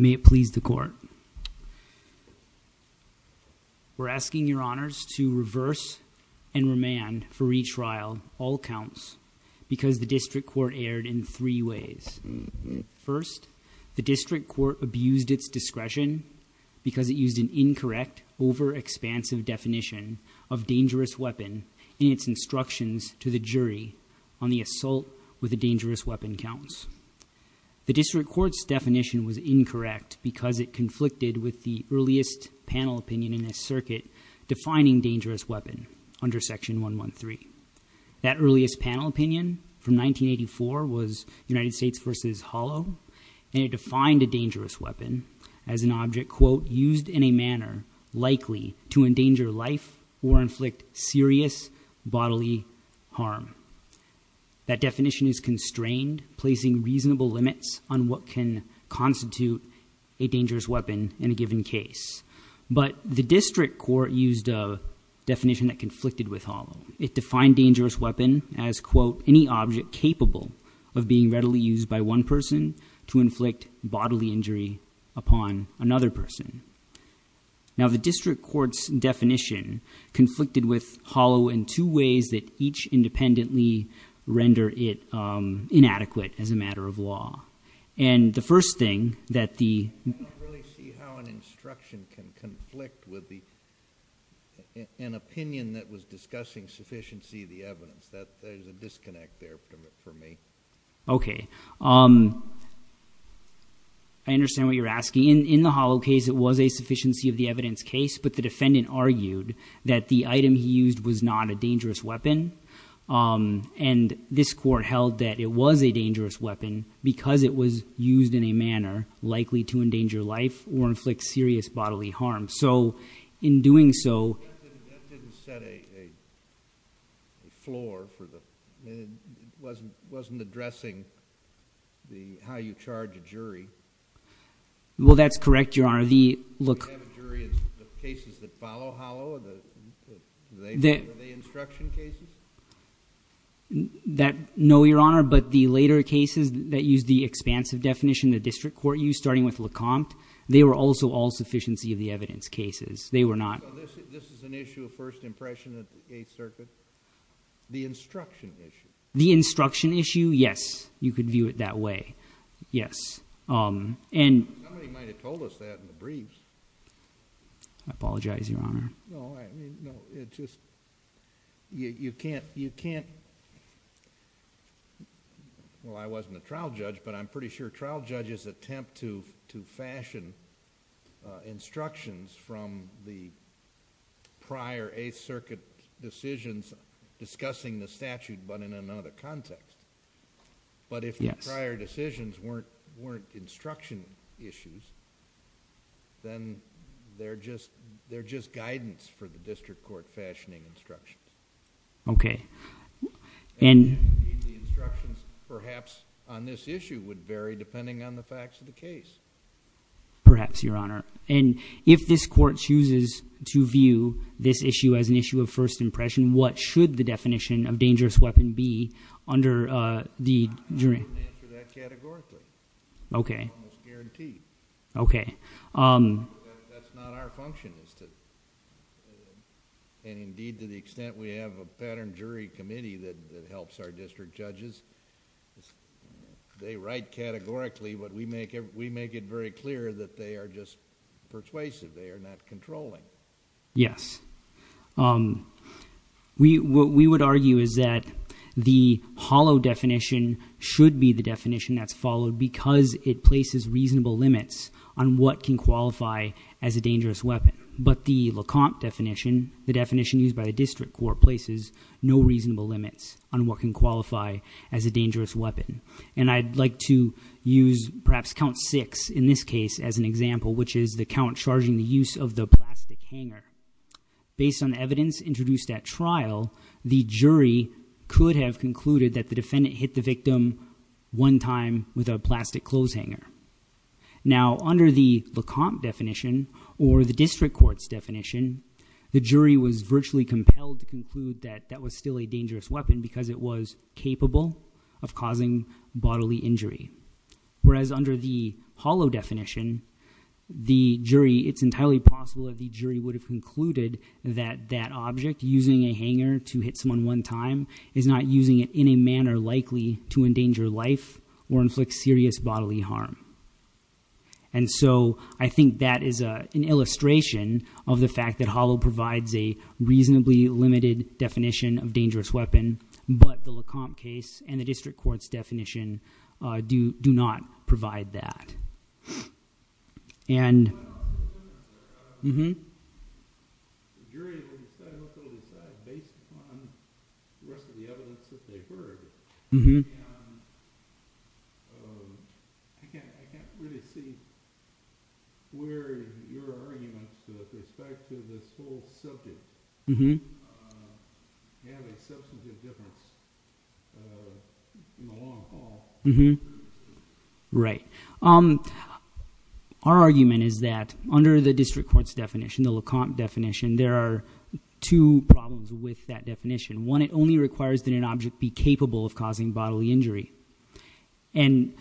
May it please the court, we're asking your honors to reverse and remand for retrial all counts because the district court erred in three ways. First, the district court abused its discretion because it used an incorrect, over-expansive definition of dangerous weapon in its instructions to the jury on the assault with a dangerous weapon counts. The district court's definition was incorrect because it conflicted with the earliest panel opinion in this circuit defining dangerous weapon under section 113. That earliest panel opinion from 1984 was United States v. Hollow and it defined a dangerous weapon as an object, quote, used in a manner likely to endanger life or inflict serious bodily harm. That definition is constrained, placing reasonable limits on what can constitute a dangerous weapon in a given case. But the district court used a definition that conflicted with Hollow. It defined dangerous weapon as, quote, any object capable of being readily used by one person to inflict bodily injury upon another person. Now the district court's definition conflicted with Hollow in two ways that each independently render it inadequate as a matter of law. And the first thing that the- I don't really see how an instruction can conflict with an opinion that was discussing sufficiency of the evidence. There's a disconnect there for me. Okay. I understand what you're asking. In the Hollow case, it was a sufficiency of the evidence case, but the defendant argued that the item he used was not a dangerous weapon. And this court held that it was a dangerous weapon because it was used in a manner likely to endanger life or inflict serious bodily harm. So in doing so- That didn't set a floor for the- It wasn't addressing how you charge a jury. Well, that's correct, Your Honor. Do we have a jury in the cases that follow Hollow? Are they instruction cases? No, Your Honor, but the later cases that used the expansive definition the district court used, starting with LeCompte, they were also all sufficiency of the evidence cases. They were not- This is an issue of first impression at the Eighth Circuit. The instruction issue. The instruction issue, yes. You could view it that way. Yes. Somebody might have told us that in the briefs. I apologize, Your Honor. No, it just... you can't... Well, I wasn't a trial judge, but I'm pretty sure trial judges attempt to fashion instructions from the prior Eighth Circuit decisions discussing the statute, but in another context. But if the prior decisions weren't instruction issues, then they're just guidance for the district court fashioning instructions. Okay. And the instructions, perhaps, on this issue would vary depending on the facts of the case. Perhaps, Your Honor. And if this court chooses to view this issue as an issue of first impression, what should the definition of dangerous weapon be under the jury? I wouldn't answer that categorically. Okay. It's almost guaranteed. Okay. That's not our function is to... They are not controlling. Yes. What we would argue is that the hollow definition should be the definition that's followed because it places reasonable limits on what can qualify as a dangerous weapon. But the Lecomte definition, the definition used by the district court, places no reasonable limits on what can qualify as a dangerous weapon. And I'd like to use, perhaps, count six in this case as an example, which is the count charging the use of the plastic hanger. Based on evidence introduced at trial, the jury could have concluded that the defendant hit the victim one time with a plastic clothes hanger. Now, under the Lecomte definition or the district court's definition, the jury was virtually compelled to conclude that that was still a dangerous weapon because it was capable of causing bodily injury. Whereas under the hollow definition, the jury... it's entirely possible that the jury would have concluded that that object, using a hanger to hit someone one time, is not using it in a manner likely to endanger life or inflict serious bodily harm. And so, I think that is an illustration of the fact that hollow provides a reasonably limited definition of dangerous weapon, but the Lecomte case and the district court's definition do not provide that. Well, the jury will decide what they'll decide based upon the rest of the evidence that they've heard. I can't really see where your arguments with respect to this whole subject have a substantive difference in the long haul. Our argument is that under the district court's definition, the Lecomte definition, there are two problems with that definition. One, it only requires that an object be capable of causing bodily injury. And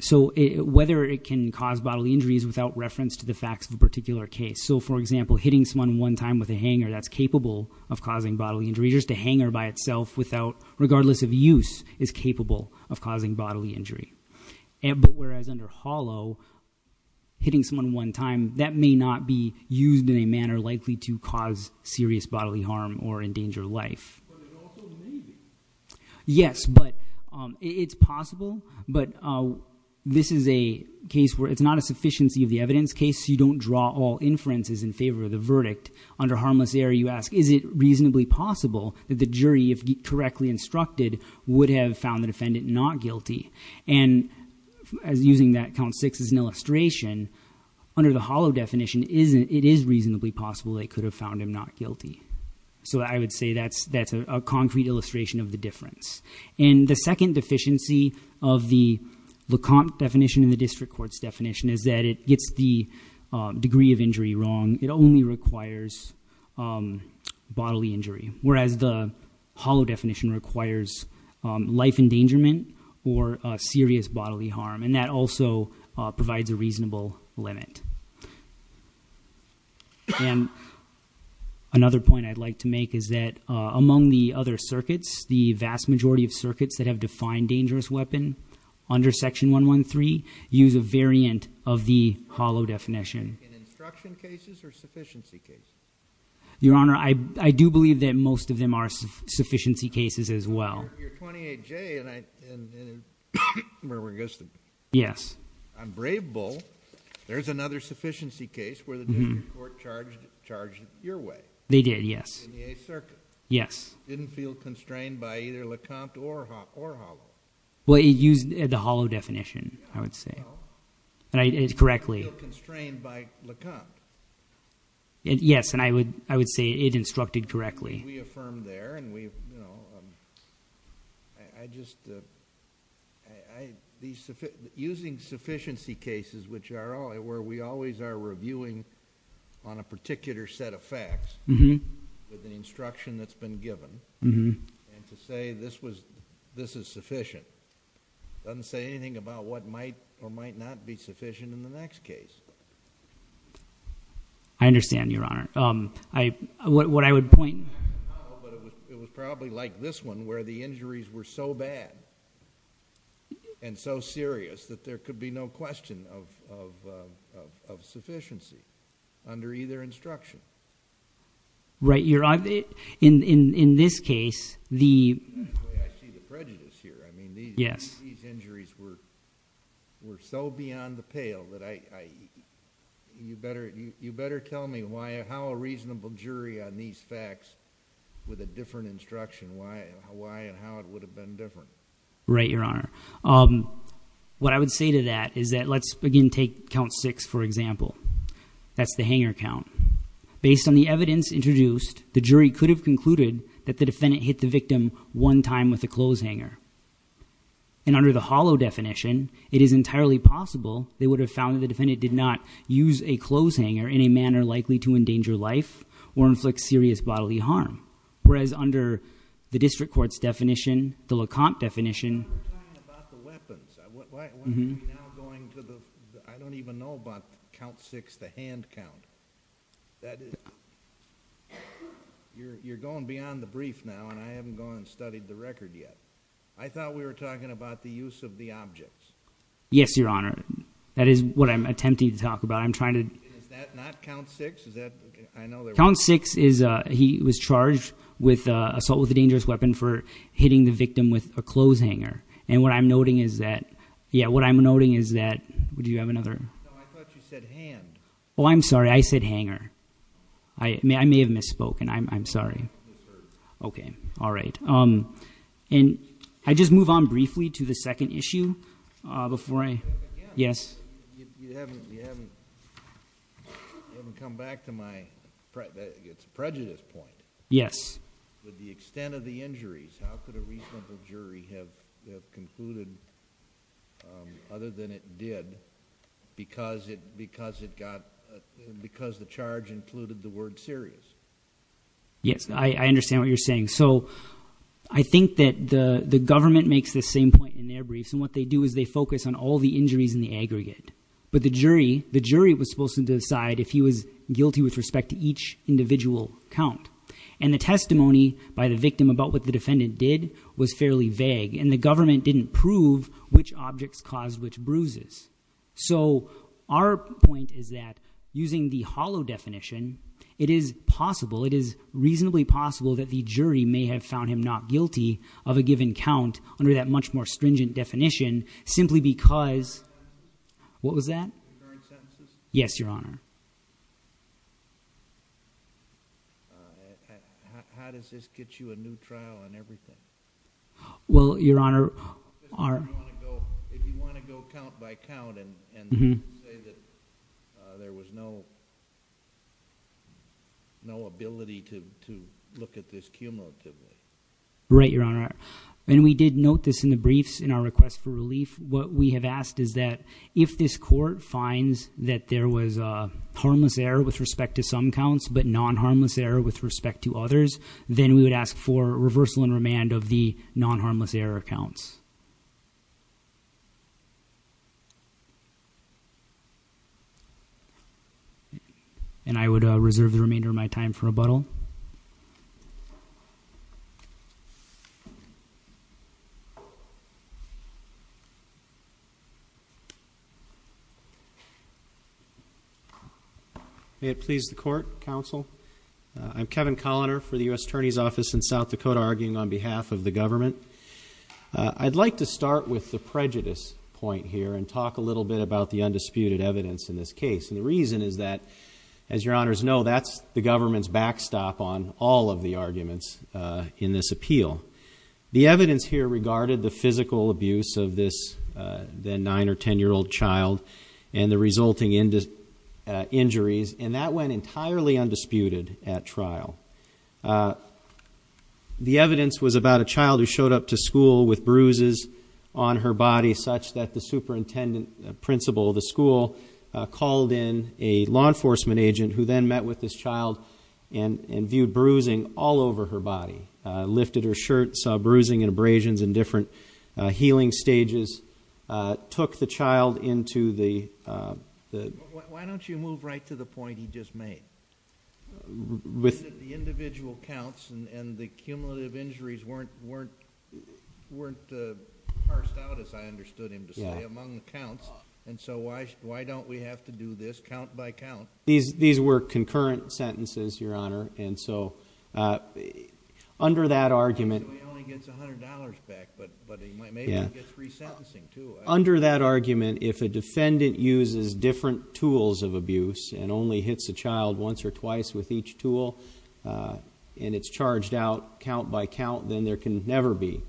so, whether it can cause bodily injury is without reference to the facts of a particular case. So, for example, hitting someone one time with a hanger that's capable of causing bodily injury, just a hanger by itself without... regardless of use, is capable of causing bodily injury. But, whereas under hollow, hitting someone one time, that may not be used in a manner likely to cause serious bodily harm or endanger life. Yes, but it's possible, but this is a case where it's not a sufficiency of the evidence case. You don't draw all inferences in favor of the verdict. Under harmless error, you ask, is it reasonably possible that the jury, if correctly instructed, would have found the defendant not guilty? And, as using that count six as an illustration, under the hollow definition, it is reasonably possible they could have found him not guilty. So, I would say that's a concrete illustration of the difference. And, the second deficiency of the Lecomte definition and the district court's definition is that it gets the degree of injury wrong. It only requires bodily injury, whereas the hollow definition requires life endangerment or serious bodily harm. And, that also provides a reasonable limit. And, another point I'd like to make is that, among the other circuits, the vast majority of circuits that have defined dangerous weapon, under section 113, use a variant of the hollow definition. In instruction cases or sufficiency cases? Your Honor, I do believe that most of them are sufficiency cases, as well. You're 28J, and I'm brave bull. There's another sufficiency case where the district court charged your way. They did, yes. In the Eighth Circuit. Yes. Didn't feel constrained by either Lecomte or hollow. Well, it used the hollow definition, I would say. Correctly. Didn't feel constrained by Lecomte. Yes, and I would say it instructed correctly. We affirm there, and we, you know, I just, I, these, using sufficiency cases, which are, where we always are reviewing on a particular set of facts, with an instruction that's been given, and to say this was, this is sufficient, doesn't say anything about what might or might not be sufficient in the next case. I understand, Your Honor. I, what I would point... It was probably like this one, where the injuries were so bad, and so serious, that there could be no question of, of, of, of sufficiency under either instruction. Right, Your Honor, in, in, in this case, the... I see the prejudice here. I mean, these... Yes. These injuries were, were so beyond the pale that I, I, you better, you, you better tell me why, how a reasonable jury on these facts, with a different instruction, why, why and how it would have been different. Right, Your Honor. What I would say to that is that, let's begin, take count six, for example. That's the hanger count. Based on the evidence introduced, the jury could have concluded that the defendant hit the victim one time with a clothes hanger. And under the hollow definition, it is entirely possible they would have found that the defendant did not use a clothes hanger in a manner likely to endanger life or inflict serious bodily harm. Whereas under the district court's definition, the Lecomte definition... I'm not talking about the weapons. Why, why, why are we now going to the, I don't even know about count six, the hand count. That is... You're, you're going beyond the brief now, and I haven't gone and studied the record yet. I thought we were talking about the use of the objects. Yes, Your Honor. That is what I'm attempting to talk about. I'm trying to... Is that not count six? Is that, I know there was... Count six is, he was charged with assault with a dangerous weapon for hitting the victim with a clothes hanger. And what I'm noting is that... Yeah, what I'm noting is that... Do you have another? No, I thought you said hand. Oh, I'm sorry. I said hanger. I may have misspoken. I'm sorry. Okay. All right. And I just move on briefly to the second issue before I... Yes. You haven't... You haven't... You haven't come back to my... It's a prejudice point. Yes. With the extent of the injuries, how could a reasonable jury have concluded other than it did because it got... Because the charge included the word serious. Yes. I understand what you're saying. So I think that the government makes the same point in their briefs. And what they do is they focus on all the injuries in the aggregate. But the jury... the jury was supposed to decide if he was guilty with respect to each individual count. And the testimony by the victim about what the defendant did was fairly vague. And the government didn't prove which objects caused which bruises. So our point is that using the hollow definition, it is possible... What was that? Yes, Your Honor. How does this get you a new trial and everything? Well, Your Honor... If you want to go count by count and say that there was no ability to look at this cumulatively. Right, Your Honor. And we did note this in the briefs in our request for relief. What we have asked is that if this court finds that there was a harmless error with respect to some counts, but non-harmless error with respect to others, then we would ask for reversal and remand of the non-harmless error counts. And I would reserve the remainder of my time for rebuttal. Thank you. May it please the Court, Counsel. I'm Kevin Colliner for the U.S. Attorney's Office in South Dakota, arguing on behalf of the government. I'd like to start with the prejudice point here and talk a little bit about the undisputed evidence in this case. And the reason is that, as Your Honors know, that's the government's backstop on all of the arguments in this appeal. The evidence here regarded the physical abuse of this then nine- or ten-year-old child and the resulting injuries, and that went entirely undisputed at trial. The evidence was about a child who showed up to school with bruises on her body, such that the superintendent principal of the school called in a law enforcement agent, who then met with this child and viewed bruising all over her body, lifted her shirt, saw bruising and abrasions in different healing stages, took the child into the- Why don't you move right to the point he just made? The individual counts and the cumulative injuries weren't parsed out, as I understood him to say, among the counts. And so why don't we have to do this count by count? These were concurrent sentences, Your Honor, and so under that argument- He only gets $100 back, but maybe he gets resentencing, too. Under that argument, if a defendant uses different tools of abuse and only hits a child once or twice with each tool and it's charged out count by count, then there can never be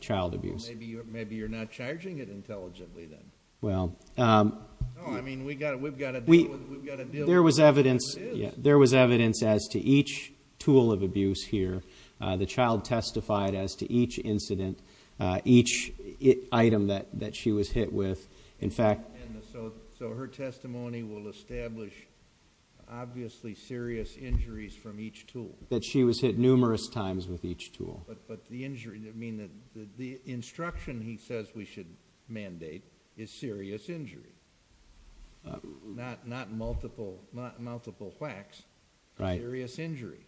child abuse. Maybe you're not charging it intelligently, then. Well- No, I mean, we've got to deal with it. There was evidence as to each tool of abuse here. The child testified as to each incident, each item that she was hit with. In fact- So her testimony will establish, obviously, serious injuries from each tool. That she was hit numerous times with each tool. But the injury, I mean, the instruction he says we should mandate is serious injury, not multiple whacks, serious injury.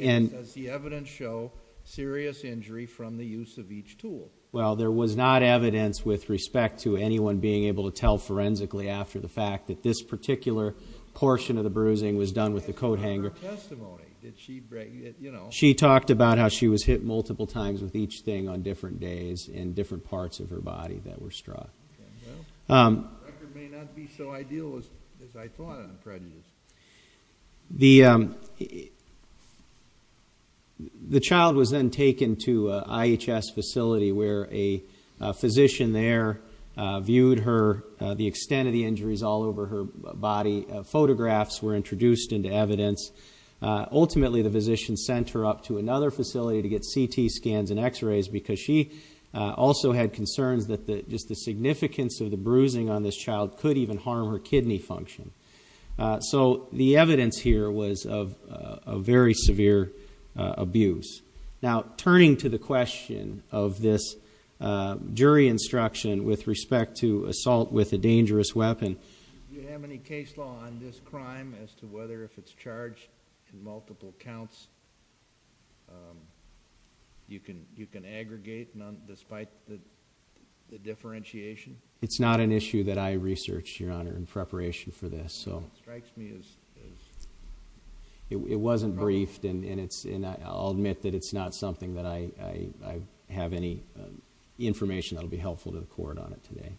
Does the evidence show serious injury from the use of each tool? Well, there was not evidence with respect to anyone being able to tell forensically after the fact that this particular portion of the bruising was done with the coat hanger. But that's not her testimony. She talked about how she was hit multiple times with each thing on different days and different parts of her body that were struck. Well, the record may not be so ideal as I thought it would be. The child was then taken to an IHS facility where a physician there viewed her, the extent of the injuries all over her body. Photographs were introduced into evidence. Ultimately, the physician sent her up to another facility to get CT scans and x-rays because she also had concerns that just the significance of the bruising on this child could even harm her kidney function. So the evidence here was of very severe abuse. Now, turning to the question of this jury instruction with respect to assault with a dangerous weapon. Do you have any case law on this crime as to whether if it's charged in multiple counts, you can aggregate despite the differentiation? It's not an issue that I researched, Your Honor, in preparation for this. It wasn't briefed and I'll admit that it's not something that I have any information that will be helpful to the court on it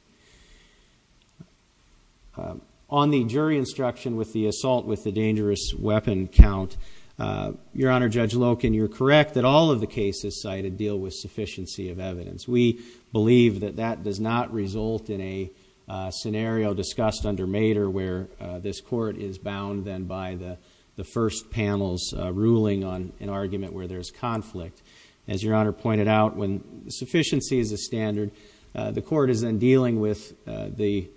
today. On the jury instruction with the assault with the dangerous weapon count, Your Honor, Judge Loken, you're correct that all of the cases cited deal with sufficiency of evidence. We believe that that does not result in a scenario discussed under Mader where this court is bound then by the first panel's ruling on an argument where there's conflict. As Your Honor pointed out, when sufficiency is a standard, the court is then dealing with the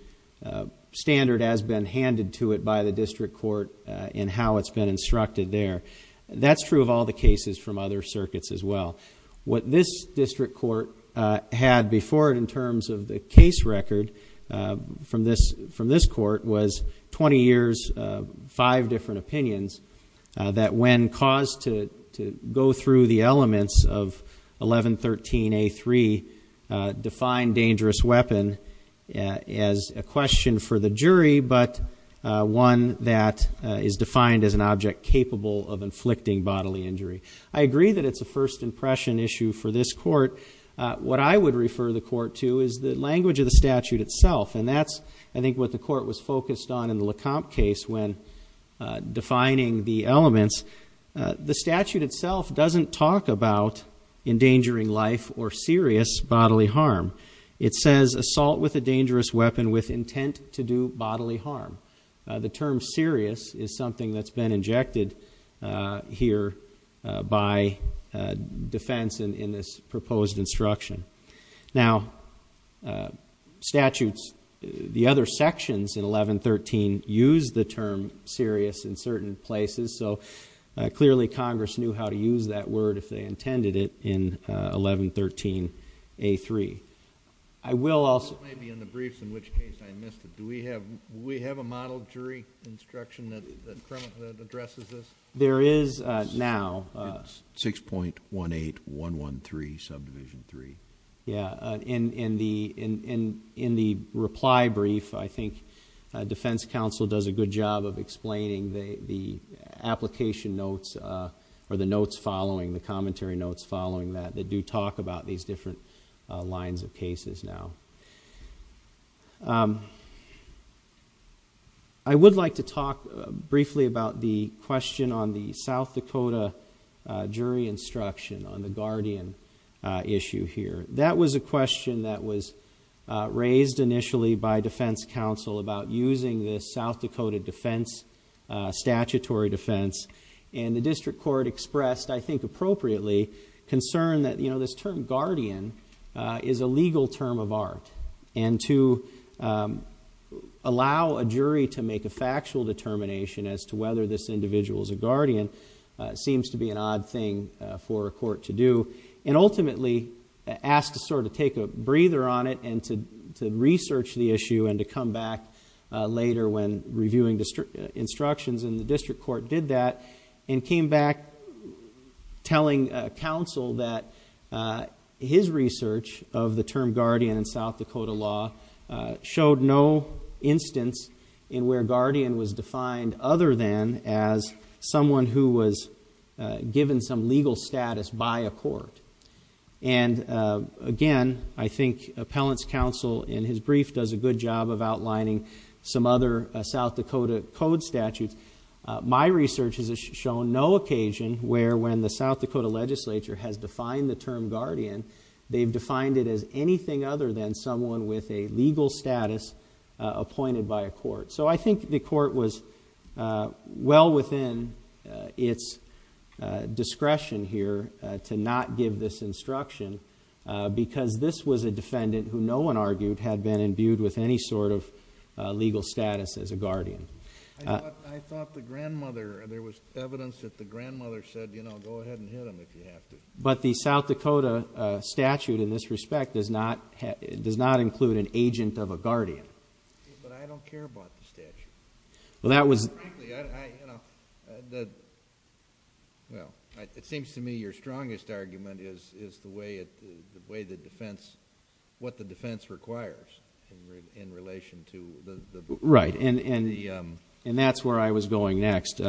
standard as been handed to it by the district court and how it's been instructed there. That's true of all the cases from other circuits as well. What this district court had before it in terms of the case record from this court was 20 years, five different opinions that when caused to go through the elements of 1113A3, defined dangerous weapon as a question for the jury but one that is defined as an object capable of inflicting bodily injury. I agree that it's a first impression issue for this court. What I would refer the court to is the language of the statute itself, and that's I think what the court was focused on in the Lecomte case when defining the elements. The statute itself doesn't talk about endangering life or serious bodily harm. It says assault with a dangerous weapon with intent to do bodily harm. The term serious is something that's been injected here by defense in this proposed instruction. Now, statutes, the other sections in 1113 use the term serious in certain places, so clearly Congress knew how to use that word if they intended it in 1113A3. I will also... It might be in the briefs in which case I missed it. Do we have a model jury instruction that addresses this? There is now. It's 6.18113 subdivision 3. Yeah. In the reply brief, I think defense counsel does a good job of explaining the application notes or the notes following, the commentary notes following that, that do talk about these different lines of cases now. I would like to talk briefly about the question on the South Dakota jury instruction on the Guardian issue here. That was a question that was raised initially by defense counsel about using the South Dakota defense, statutory defense, and the district court expressed, I think appropriately, concern that this term guardian is a legal term of art and to allow a jury to make a factual determination as to whether this individual is a guardian seems to be an odd thing for a court to do and ultimately asked to sort of take a breather on it and to research the issue and to come back later when reviewing instructions in the district court did that and came back telling counsel that his research of the term guardian in South Dakota law showed no instance in where guardian was defined other than as someone who was given some legal status by a court. And again, I think appellant's counsel in his brief does a good job of outlining some other South Dakota code statutes. My research has shown no occasion where when the South Dakota legislature has defined the term guardian, they've defined it as anything other than someone with a legal status appointed by a court. So I think the court was well within its discretion here to not give this instruction because this was a defendant who no one argued had been imbued with any sort of legal status as a guardian. I thought the grandmother, there was evidence that the grandmother said, you know, go ahead and hit him if you have to. But the South Dakota statute in this respect does not include an agent of a guardian. But I don't care about the statute. Well, frankly, it seems to me your strongest argument is the way the defense, what the defense requires in relation to the... Right. And that's where I was going next,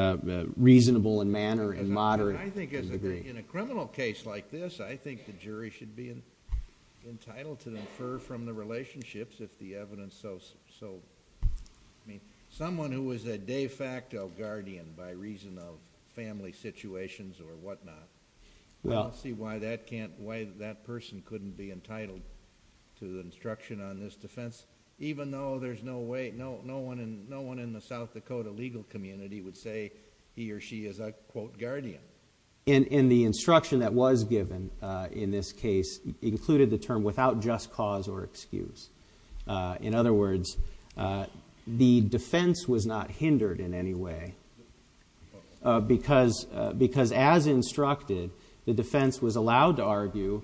reasonable in manner and moderate in degree. I think in a criminal case like this, I think the jury should be entitled to infer from the relationships if the evidence so... Someone who is a de facto guardian by reason of family situations or whatnot, I don't see why that person couldn't be entitled to instruction on this defense, even though there's no way, no one in the South Dakota legal community would say he or she is a, quote, guardian. And the instruction that was given in this case included the term without just cause or excuse. In other words, the defense was not hindered in any way because as instructed, the defense was allowed to argue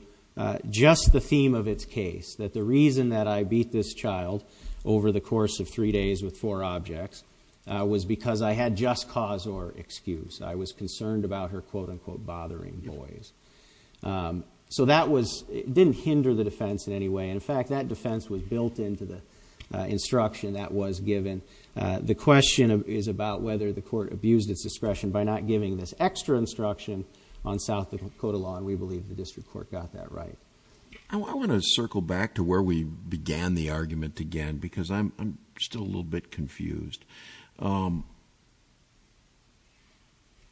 just the theme of its case, that the reason that I beat this child over the course of three days with four objects was because I had just cause or excuse. I was concerned about her, quote, unquote, bothering boys. So that was... it didn't hinder the defense in any way. In fact, that defense was built into the instruction that was given. The question is about whether the court abused its discretion by not giving this extra instruction on South Dakota law, and we believe the district court got that right. I want to circle back to where we began the argument again because I'm still a little bit confused.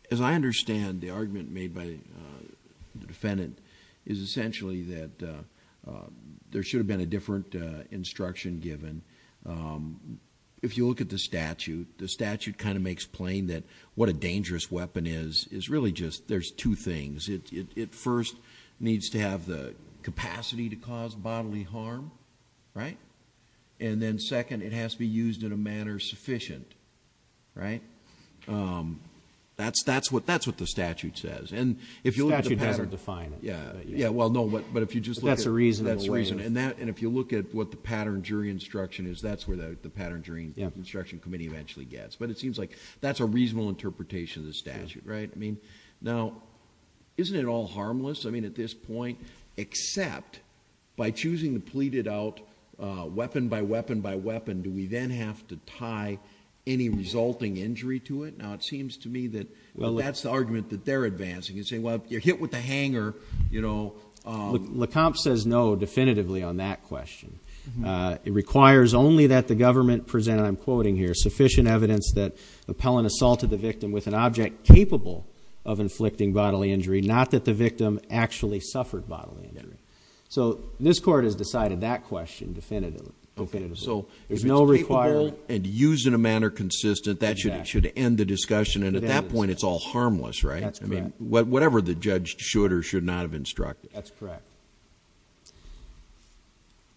As I understand, the argument made by the defendant is essentially that there should have been a different instruction given. If you look at the statute, the statute kind of makes plain that what a dangerous weapon is, is really just there's two things. It first needs to have the capacity to cause bodily harm, right? And then second, it has to be used in a manner sufficient, right? That's what the statute says. The statute hasn't defined it. Yeah, well, no, but if you just look at... That's the reason in a way. That's the reason. And if you look at what the pattern jury instruction is, that's where the pattern jury instruction committee eventually gets. But it seems like that's a reasonable interpretation of the statute, right? Now, isn't it all harmless? I mean, at this point, except by choosing to plead it out weapon by weapon by weapon, do we then have to tie any resulting injury to it? Now, it seems to me that that's the argument that they're advancing. You say, well, you're hit with a hanger, you know. Lecomte says no definitively on that question. It requires only that the government present, and I'm quoting here, of inflicting bodily injury, not that the victim actually suffered bodily injury. So this court has decided that question definitively. Okay, so if it's capable and used in a manner consistent, that should end the discussion. And at that point, it's all harmless, right? That's correct. I mean, whatever the judge should or should not have instructed. That's correct.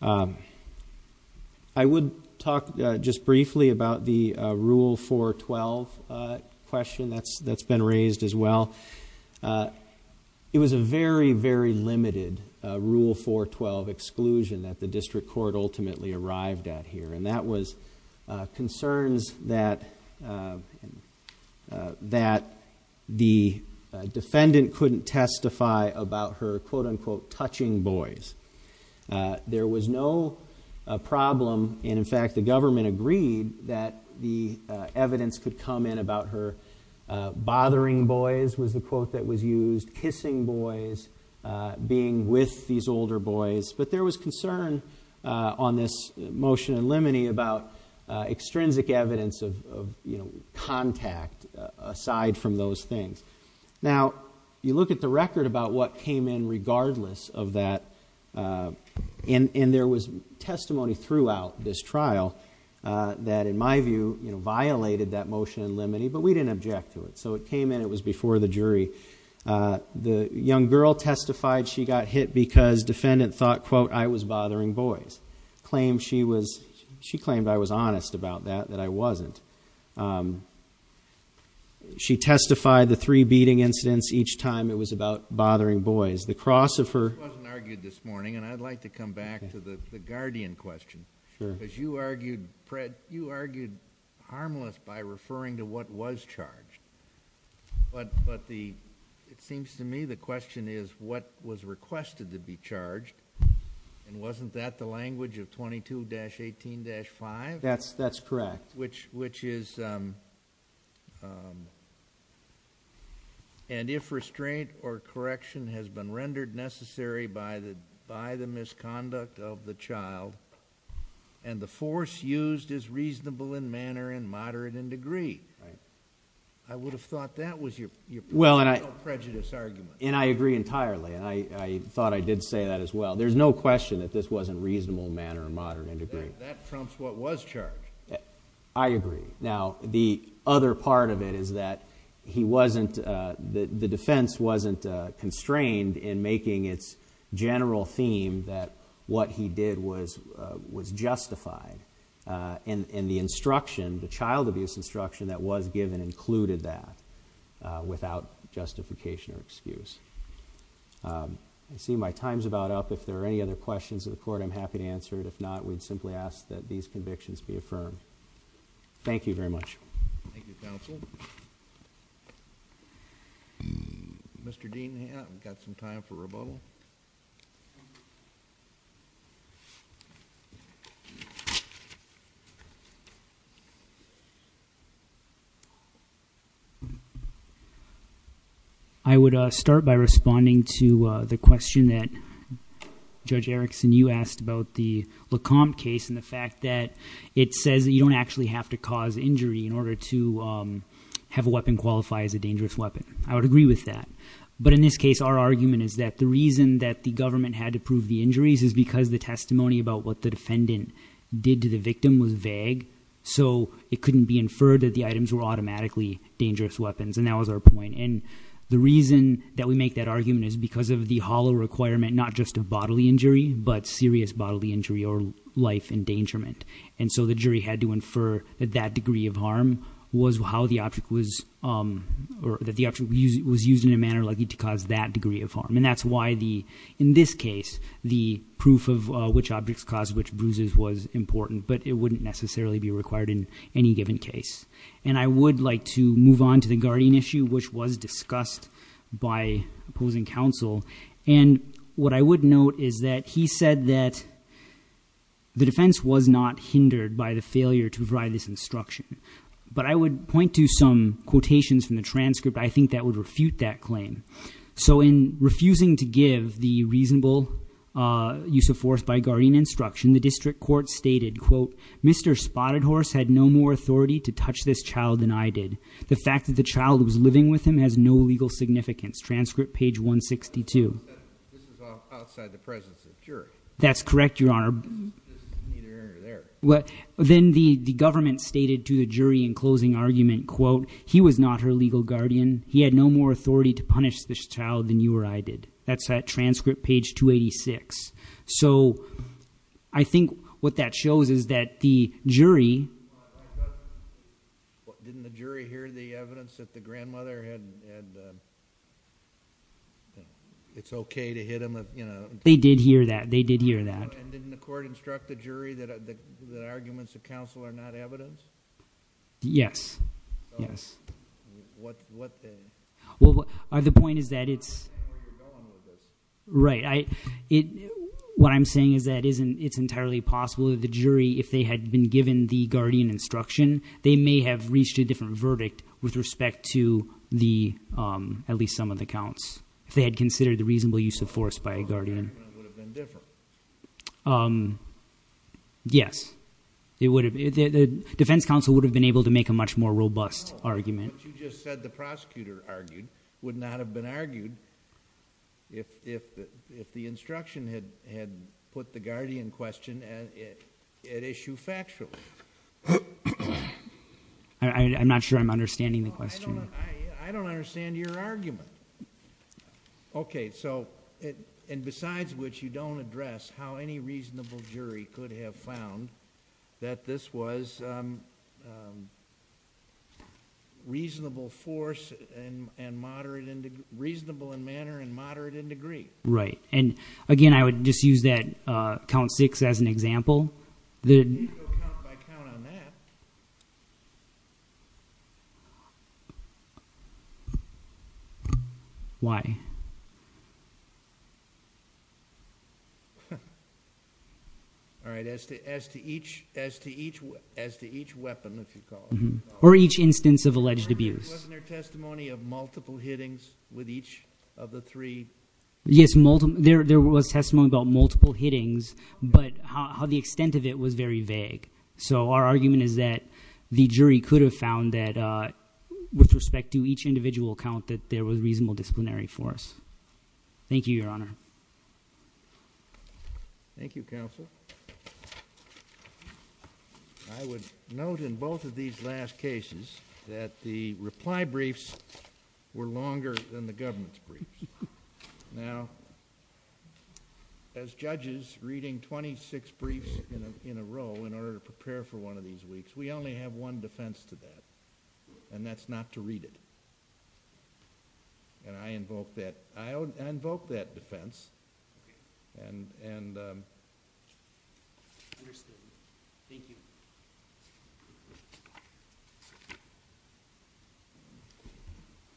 I would talk just briefly about the Rule 412 question that's been raised as well. It was a very, very limited Rule 412 exclusion that the district court ultimately arrived at here, and that was concerns that the defendant couldn't testify about her, quote, unquote, touching boys. There was no problem, and in fact, the government agreed that the evidence could come in about her bothering boys was the quote that was used, kissing boys, being with these older boys. But there was concern on this motion in limine about extrinsic evidence of, you know, contact aside from those things. Now, you look at the record about what came in regardless of that, and there was testimony throughout this trial that, in my view, violated that motion in limine, but we didn't object to it. So it came in. It was before the jury. The young girl testified she got hit because defendant thought, quote, I was bothering boys. She claimed I was honest about that, that I wasn't. She testified the three beating incidents each time it was about bothering boys. The cross of her. It wasn't argued this morning, and I'd like to come back to the guardian question. Sure. Because you argued, Fred, you argued harmless by referring to what was charged. But it seems to me the question is what was requested to be charged, and wasn't that the language of 22-18-5? That's correct. Which is, and if restraint or correction has been rendered necessary by the misconduct of the child and the force used is reasonable in manner and moderate in degree. Right. I would have thought that was your personal prejudice argument. And I agree entirely, and I thought I did say that as well. There's no question that this wasn't reasonable in manner and moderate in degree. That trumps what was charged. I agree. Now, the other part of it is that he wasn't, the defense wasn't constrained in making its general theme that what he did was justified. And the instruction, the child abuse instruction that was given included that without justification or excuse. I see my time's about up. If there are any other questions of the court, I'm happy to answer it. If not, we'd simply ask that these convictions be affirmed. Thank you very much. Thank you, counsel. Mr. Dean, we've got some time for rebuttal. I would start by responding to the question that Judge Erickson, you asked about the LeComte case and the fact that it says that you don't actually have to cause injury in order to have a weapon qualify as a dangerous weapon. I would agree with that. But in this case, our argument is that the reason that the government had to approve the injuries is because the testimony about what the defendant did to the victim was vague. So it couldn't be inferred that the items were automatically dangerous weapons. And that was our point. And the reason that we make that argument is because of the hollow requirement, not just of bodily injury, but serious bodily injury or life endangerment. And so the jury had to infer that that degree of harm was how the object was, or that the object was used in a manner likely to cause that degree of harm. And that's why, in this case, the proof of which objects caused which bruises was important. But it wouldn't necessarily be required in any given case. And I would like to move on to the Guardian issue, which was discussed by opposing counsel. And what I would note is that he said that the defense was not hindered by the failure to provide this instruction. But I would point to some quotations from the transcript. I think that would refute that claim. So in refusing to give the reasonable use of force by Guardian instruction, the district court stated, quote, Mr. Spotted Horse had no more authority to touch this child than I did. The fact that the child was living with him has no legal significance. Transcript page 162. This is outside the presence of the jury. That's correct, Your Honor. This is neither here nor there. Then the government stated to the jury in closing argument, quote, he was not her legal guardian. He had no more authority to punish this child than you or I did. That's at transcript page 286. So I think what that shows is that the jury. Didn't the jury hear the evidence that the grandmother had, it's okay to hit him? They did hear that. They did hear that. And didn't the court instruct the jury that arguments of counsel are not evidence? Yes. Yes. What then? Well, the point is that it's. Where are you going with this? Right. What I'm saying is that it's entirely possible that the jury, if they had been given the Guardian instruction, they may have reached a different verdict with respect to the, at least some of the counts. If they had considered the reasonable use of force by Guardian. The argument would have been different. Yes. It would have. The defense counsel would have been able to make a much more robust argument. You just said the prosecutor argued, would not have been argued if the instruction had put the Guardian question at issue factually. I'm not sure I'm understanding the question. I don't understand your argument. Okay. So, and besides which you don't address how any reasonable jury could have found that this was. Reasonable force and moderate and reasonable in manner and moderate in degree. Right. And again, I would just use that count six as an example. You can't go count by count on that. Why? All right. As to each weapon, if you call it. Or each instance of alleged abuse. Wasn't there testimony of multiple hittings with each of the three? Yes. There was testimony about multiple hittings. But how the extent of it was very vague. So our argument is that. The jury could have found that. With respect to each individual account that there was reasonable disciplinary force. Thank you, Your Honor. Thank you, Counsel. I would note in both of these last cases. That the reply briefs. Were longer than the government's brief. Now. As judges reading twenty-six briefs in a row. In order to prepare for one of these weeks. We only have one defense to that. And that's not to read it. And I invoke that. I invoke that defense. And. Understood. Thank you.